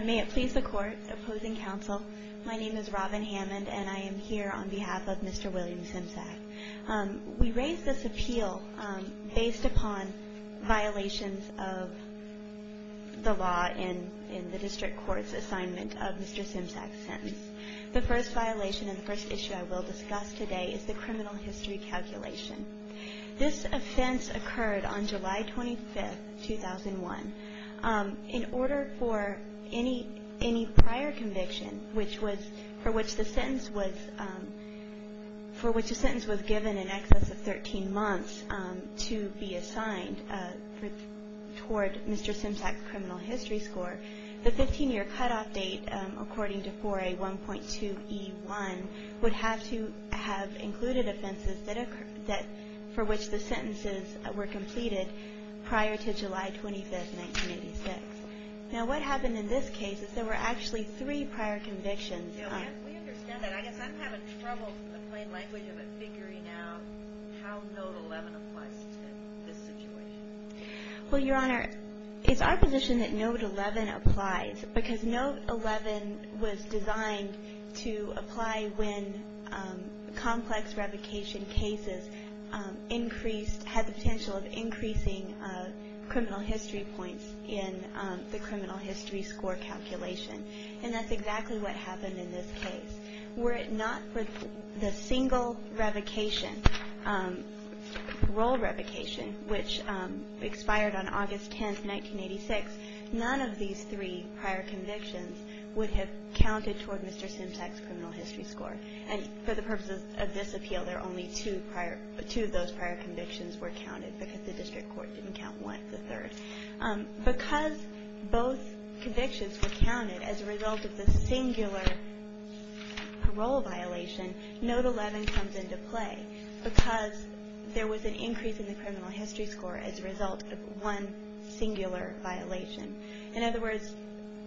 May it please the court, opposing counsel, my name is Robin Hammond and I am here on behalf of Mr. William Semsak. We raise this appeal based upon violations of the law in the district court's assignment of Mr. Semsak's sentence. The first violation and the first issue I will discuss today is the criminal history calculation. This offense occurred on July 25, 2001. In order for any prior conviction for which the sentence was given in excess of 13 months to be assigned toward Mr. Semsak's criminal history score, the 15-year cutoff date according to 4A1.2E1 would have to have included offenses for which the sentences were completed prior to July 25, 1986. Now what happened in this case is there were actually three prior convictions. We understand that. I guess I'm having trouble in plain language of it figuring out how Note 11 applies to this situation. Well, Your Honor, it's our position that Note 11 applies because Note 11 was designed to apply when complex revocation cases increased, had the potential of increasing criminal history points in the criminal history score calculation. And that's exactly what happened in this case. Were it not for the single revocation, parole revocation, which expired on August 10, 1986, none of these three prior convictions would have counted toward Mr. Semsak's criminal history score. And for the purposes of this appeal, there are only two of those prior convictions were counted because the district court didn't count one, the third. Because both convictions were counted as a result of the singular parole violation, Note 11 comes into play because there was an increase in the criminal history score as a result of one singular violation. In other words,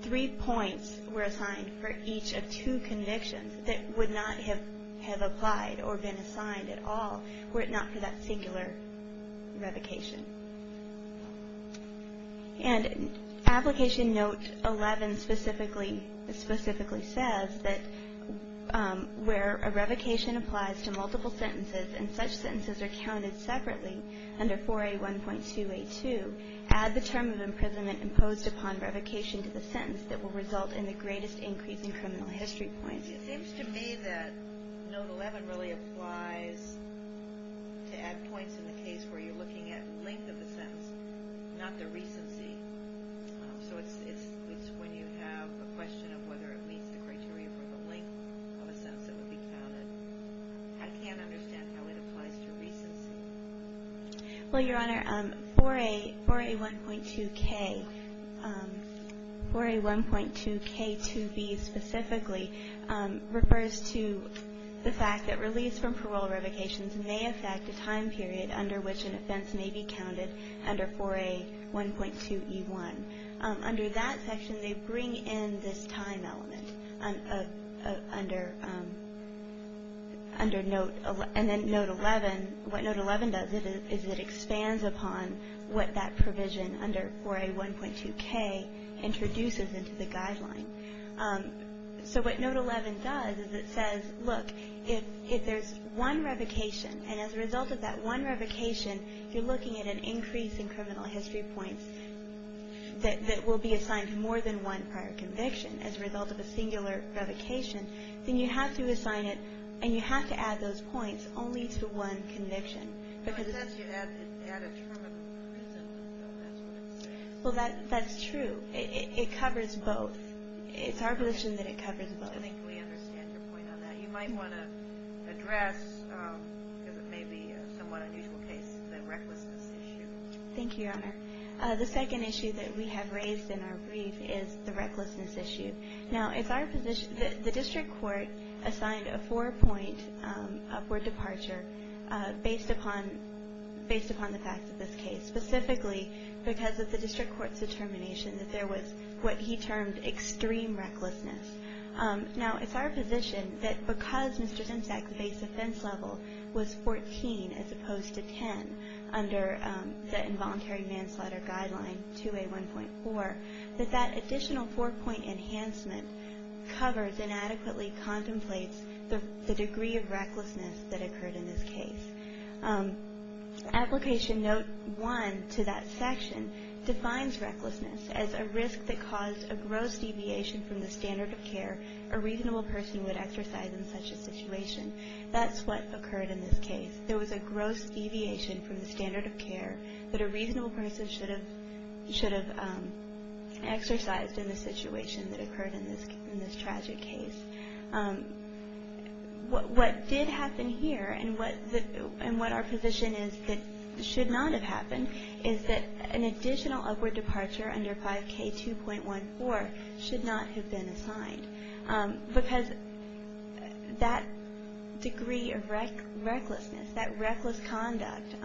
three points were assigned for each of two convictions that would not have applied or been assigned at all were it not for that singular revocation. And application Note 11 specifically says that where a revocation applies to multiple sentences and such sentences are counted separately under 4A1.282, add the term of imprisonment imposed upon revocation to the sentence that will result in the greatest increase in criminal history points. It seems to me that Note 11 really applies to add points in the case where you're looking at length of the sentence, not the recency. So it's when you have a question of whether it meets the criteria for the length of a sentence that will be counted. I can't understand how it applies to recency. Well, Your Honor, 4A1.2K, 4A1.2K2B specifically refers to the fact that release from parole revocations may affect a time period under which an offense may be counted under 4A1.2E1. Under that section, they bring in this time element under Note 11. What Note 11 does is it expands upon what that provision under 4A1.2K introduces into the guideline. So what Note 11 does is it says, look, if there's one revocation, and as a result of that one revocation, you're looking at an increase in criminal history points that will be assigned to more than one prior conviction. As a result of a singular revocation, then you have to assign it, and you have to add those points only to one conviction. Well, it says you add a term of imprisonment, though, that's what it says. Well, that's true. It covers both. It's our position that it covers both. I think we understand your point on that. You might want to address, because it may be a somewhat unusual case, the recklessness issue. Thank you, Your Honor. The second issue that we have raised in our brief is the recklessness issue. Now, it's our position that the district court assigned a four-point upward departure based upon the facts of this case, specifically because of the district court's determination that there was what he termed extreme recklessness. Now, it's our position that because Mr. Zimczak's base offense level was 14 as opposed to 10 under the involuntary manslaughter guideline, 2A1.4, that that additional four-point enhancement covers and adequately contemplates the degree of recklessness that occurred in this case. Application note one to that section defines recklessness as a risk that caused a gross deviation from the standard of care a reasonable person would exercise in such a situation. That's what occurred in this case. There was a gross deviation from the standard of care that a reasonable person should have exercised in the situation that occurred in this tragic case. What did happen here and what our position is that should not have happened is that an additional upward departure under 5K2.14 should not have been assigned because that degree of recklessness, that reckless conduct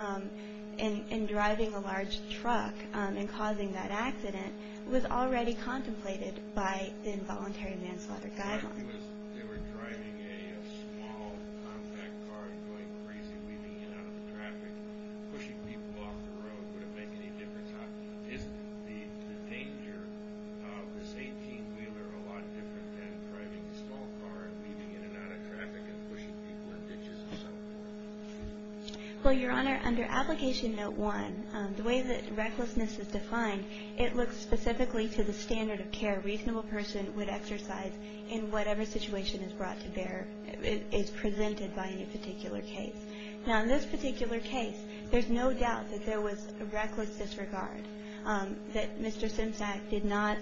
in driving a large truck and causing that accident was already contemplated by the involuntary manslaughter guideline. If they were driving a small compact car and going crazy, weaving in and out of traffic, pushing people off the road, would it make any difference? Isn't the danger of this 18-wheeler a lot different than driving a small car and weaving in and out of traffic and pushing people in ditches and so forth? Well, Your Honor, under application note one, the way that recklessness is defined, it looks specifically to the standard of care a reasonable person would exercise in whatever situation is presented by any particular case. Now, in this particular case, there's no doubt that there was reckless disregard, that Mr. Simsack did not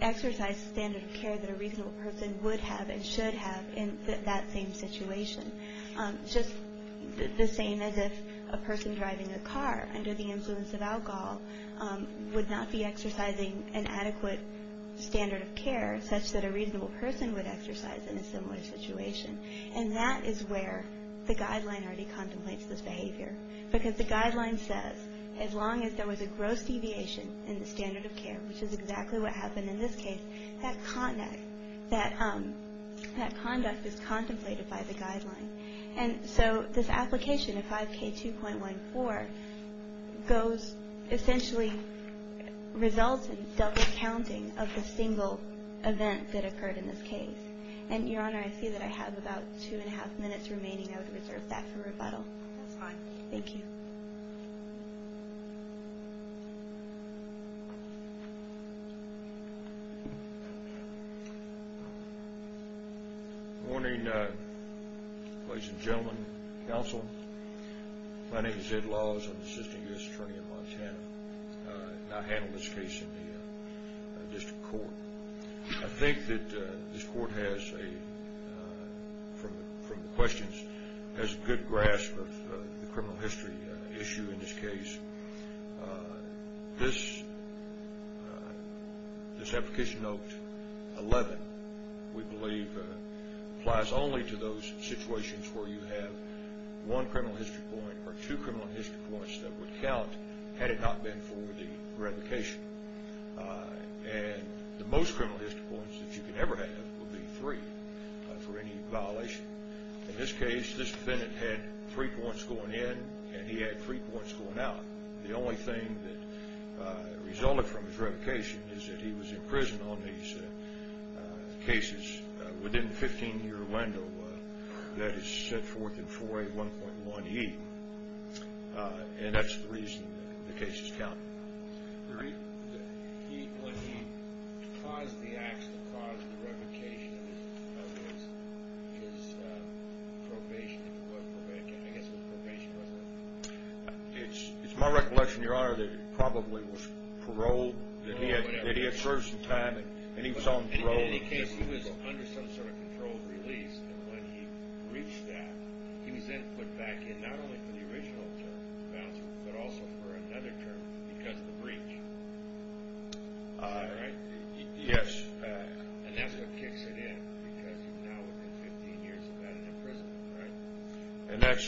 exercise the standard of care that a reasonable person would have and should have in that same situation. Just the same as if a person driving a car under the influence of alcohol would not be exercising an adequate standard of care such that a reasonable person would exercise in a similar situation. And that is where the guideline already contemplates this behavior because the guideline says as long as there was a gross deviation in the standard of care, which is exactly what happened in this case, that conduct is contemplated by the guideline. And so this application, 5K2.14, essentially results in double counting of the single event that occurred in this case. And, Your Honor, I see that I have about two and a half minutes remaining. I would reserve that for rebuttal. That's fine. Thank you. Thank you. Good morning, ladies and gentlemen, counsel. My name is Ed Laws. I'm the Assistant U.S. Attorney in Montana, and I handle this case in the district court. I think that this court has, from the questions, has a good grasp of the criminal history issue in this case. This application, note 11, we believe applies only to those situations where you have one criminal history point or two criminal history points that would count had it not been for the revocation. And the most criminal history points that you could ever have would be three for any violation. In this case, this defendant had three points going in, and he had three points going out. The only thing that resulted from his revocation is that he was in prison on these cases within the 15-year window that is set forth in 4A1.1E, and that's the reason the cases count. When he caused the acts that caused the revocation of his probation, I guess what probation was that? It's my recollection, Your Honor, that he probably was paroled. No, whatever. That he had frozen time, and he was on parole. In any case, he was under some sort of controlled release, and when he breached that, he was then put back in, not only for the original term, but also for another term because of the breach. Is that right? Yes. And that's what kicks it in, because he's now within 15 years of being in prison, right? And that's,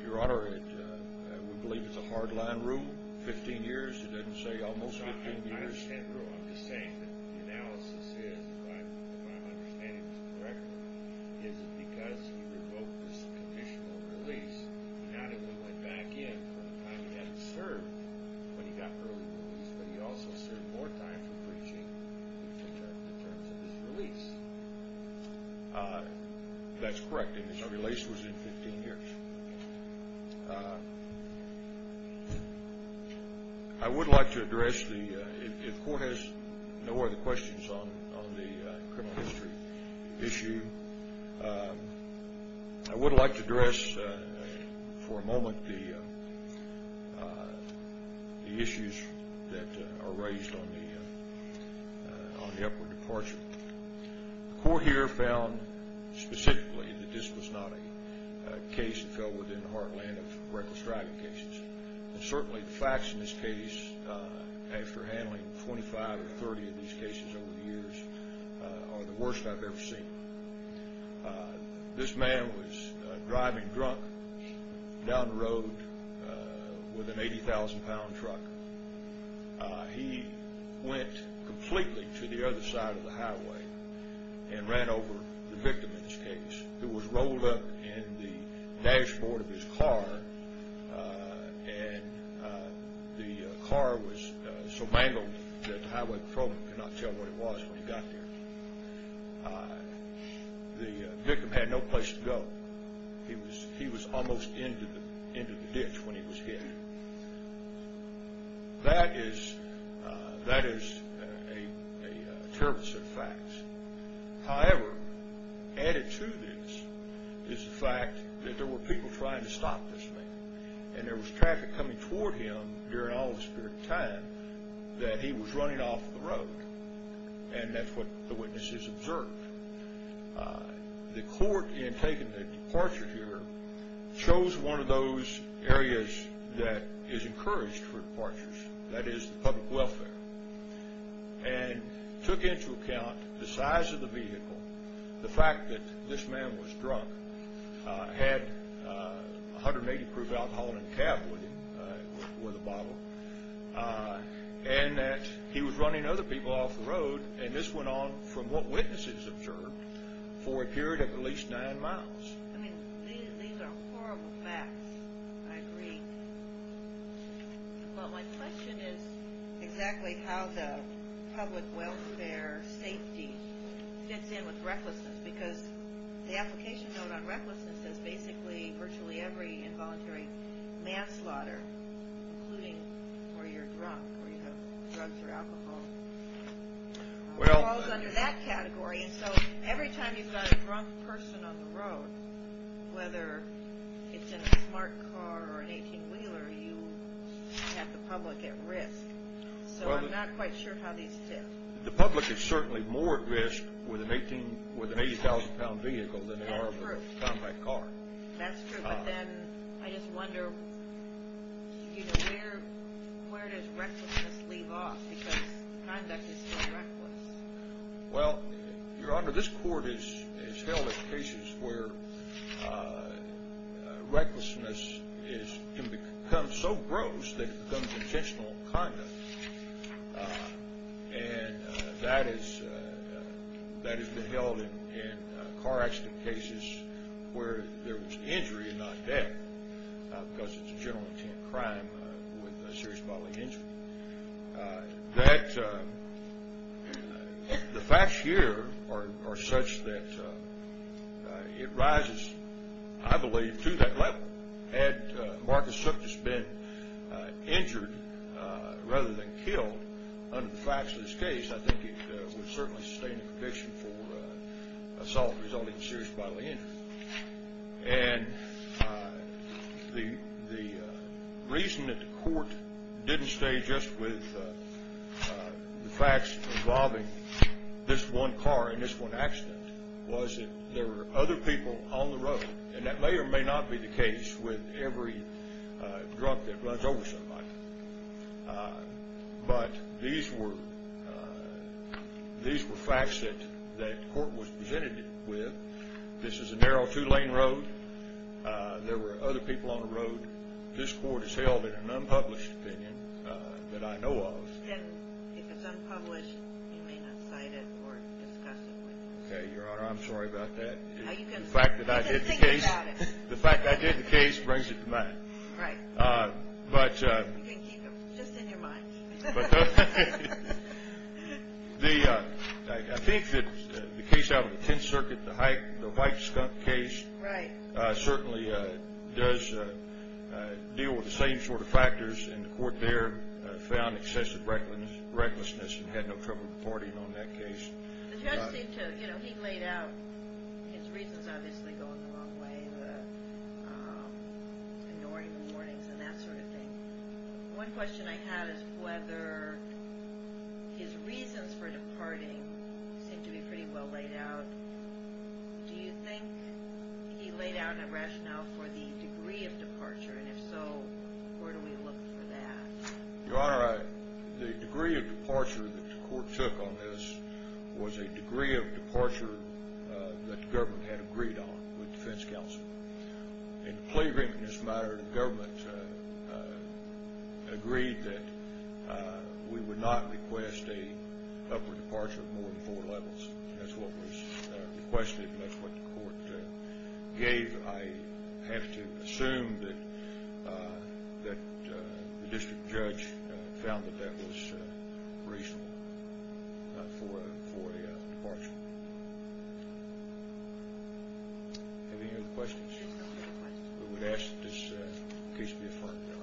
Your Honor, we believe it's a hard-line rule, 15 years. It doesn't say almost 15 years. I understand the rule. I'm just saying that the analysis is, and my understanding is correct, is that because he revoked this conditional release, not only went back in for a time he hadn't served when he got early release, but he also served more time for breaching the terms of his release. That's correct, and his release was in 15 years. I would like to address, if the Court has no other questions on the criminal history issue, I would like to address for a moment the issues that are raised on the upward departure. The Court here found specifically that this was not a case that fell within the heartland of reckless driving cases, and certainly the facts in this case, after handling 25 or 30 of these cases over the years, are the worst I've ever seen. This man was driving drunk down the road with an 80,000-pound truck. He went completely to the other side of the highway and ran over the victim in this case, who was rolled up in the dashboard of his car, and the car was so mangled that the highway patrolman could not tell what it was when he got there. The victim had no place to go. He was almost into the ditch when he was hit. That is a terrible set of facts. However, added to this is the fact that there were people trying to stop this man, and there was traffic coming toward him during all this period of time that he was running off the road, and that's what the witnesses observed. The Court, in taking the departure here, chose one of those areas that is encouraged for departures, that is the public welfare, and took into account the size of the vehicle, the fact that this man was drunk, had 180-proof alcohol in the cab with him, with a bottle, and that he was running other people off the road, and this went on, from what witnesses observed, for a period of at least nine miles. I mean, these are horrible facts, I agree. But my question is exactly how the public welfare safety fits in with recklessness, because the application note on recklessness says basically virtually every involuntary manslaughter, including where you're drunk, where you have drugs or alcohol, falls under that category, and so every time you've got a drunk person on the road, whether it's in a smart car or an 18-wheeler, you have the public at risk, so I'm not quite sure how these fit. The public is certainly more at risk with an 80,000-pound vehicle than they are with a compact car. That's true, but then I just wonder where does recklessness leave off, because conduct is still reckless. Well, Your Honor, this Court is held in cases where recklessness can become so gross that it becomes intentional conduct, and that has been held in car accident cases where there was injury and not death, because it's a general intent crime with a serious bodily injury. The facts here are such that it rises, I believe, to that level. Had Marcus Sookjus been injured rather than killed under the facts of this case, I think he would certainly sustain a conviction for assault resulting in serious bodily injury, and the reason that the Court didn't stay just with the facts involving this one car and this one accident was that there were other people on the road, and that may or may not be the case with every drug that runs over somebody, but these were facts that the Court was presented with. This is a narrow two-lane road. There were other people on the road. This Court is held in an unpublished opinion that I know of. If it's unpublished, you may not cite it or discuss it with me. Okay, Your Honor, I'm sorry about that. The fact that I did the case brings it to mind. You can keep it just in your mind. I think that the case out of the Tenth Circuit, the white skunk case, certainly does deal with the same sort of factors, and the Court there found excessive recklessness and had no trouble departing on that case. The judge seemed to, you know, he laid out his reasons, obviously, going the wrong way, ignoring the warnings and that sort of thing. One question I had is whether his reasons for departing seemed to be pretty well laid out. Do you think he laid out a rationale for the degree of departure, and if so, where do we look for that? Your Honor, the degree of departure that the Court took on this was a degree of departure that the government had agreed on with the defense counsel. In the plea agreement, as a matter of the government, agreed that we would not request a upper departure of more than four levels. That's what was requested and that's what the Court gave. I have to assume that the district judge found that that was reasonable for a departure. Any other questions? We would ask that this case be affirmed, Your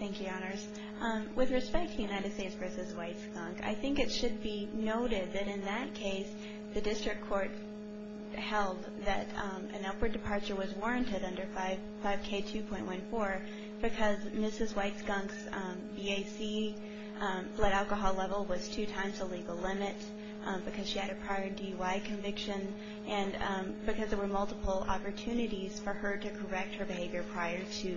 Honor. Thank you, Your Honors. With respect to United States v. White Skunk, I think it should be noted that in that case, the district court held that an upward departure was warranted under 5K2.14 because Mrs. White Skunk's EAC blood alcohol level was two times the legal limit, because she had a prior DUI conviction, and because there were multiple opportunities for her to correct her behavior prior to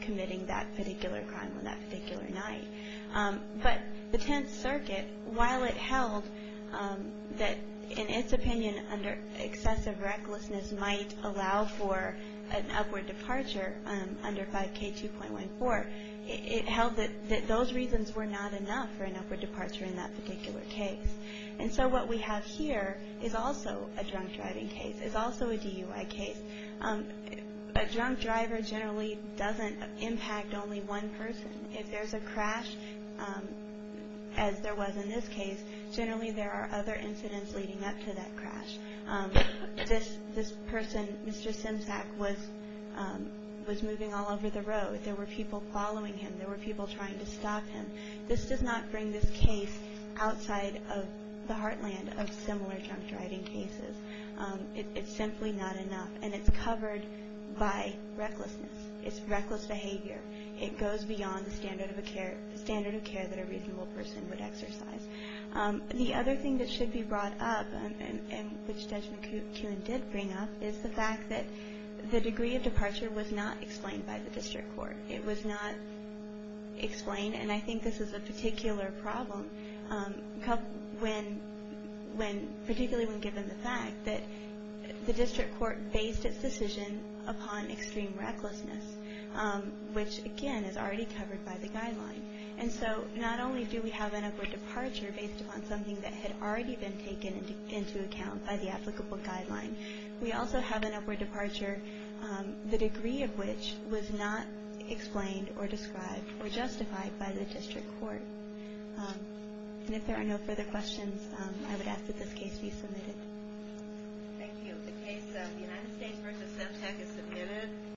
committing that particular crime on that particular night. But the Tenth Circuit, while it held that, in its opinion, excessive recklessness might allow for an upward departure under 5K2.14, it held that those reasons were not enough for an upward departure in that particular case. And so what we have here is also a drunk driving case. It's also a DUI case. A drunk driver generally doesn't impact only one person. If there's a crash, as there was in this case, generally there are other incidents leading up to that crash. This person, Mr. Simsack, was moving all over the road. There were people following him. There were people trying to stop him. This does not bring this case outside of the heartland of similar drunk driving cases. It's simply not enough, and it's covered by recklessness. It's reckless behavior. It goes beyond the standard of care that a reasonable person would exercise. The other thing that should be brought up, and which Judge McKeown did bring up, is the fact that the degree of departure was not explained by the district court. It was not explained, and I think this is a particular problem, particularly when given the fact that the district court based its decision upon extreme recklessness, which, again, is already covered by the guideline. And so not only do we have an upward departure based upon something that had already been taken into account by the applicable guideline, we also have an upward departure, the degree of which was not explained or described or justified by the district court. And if there are no further questions, I would ask that this case be submitted. Thank you. The case of the United States v. Semtec is submitted.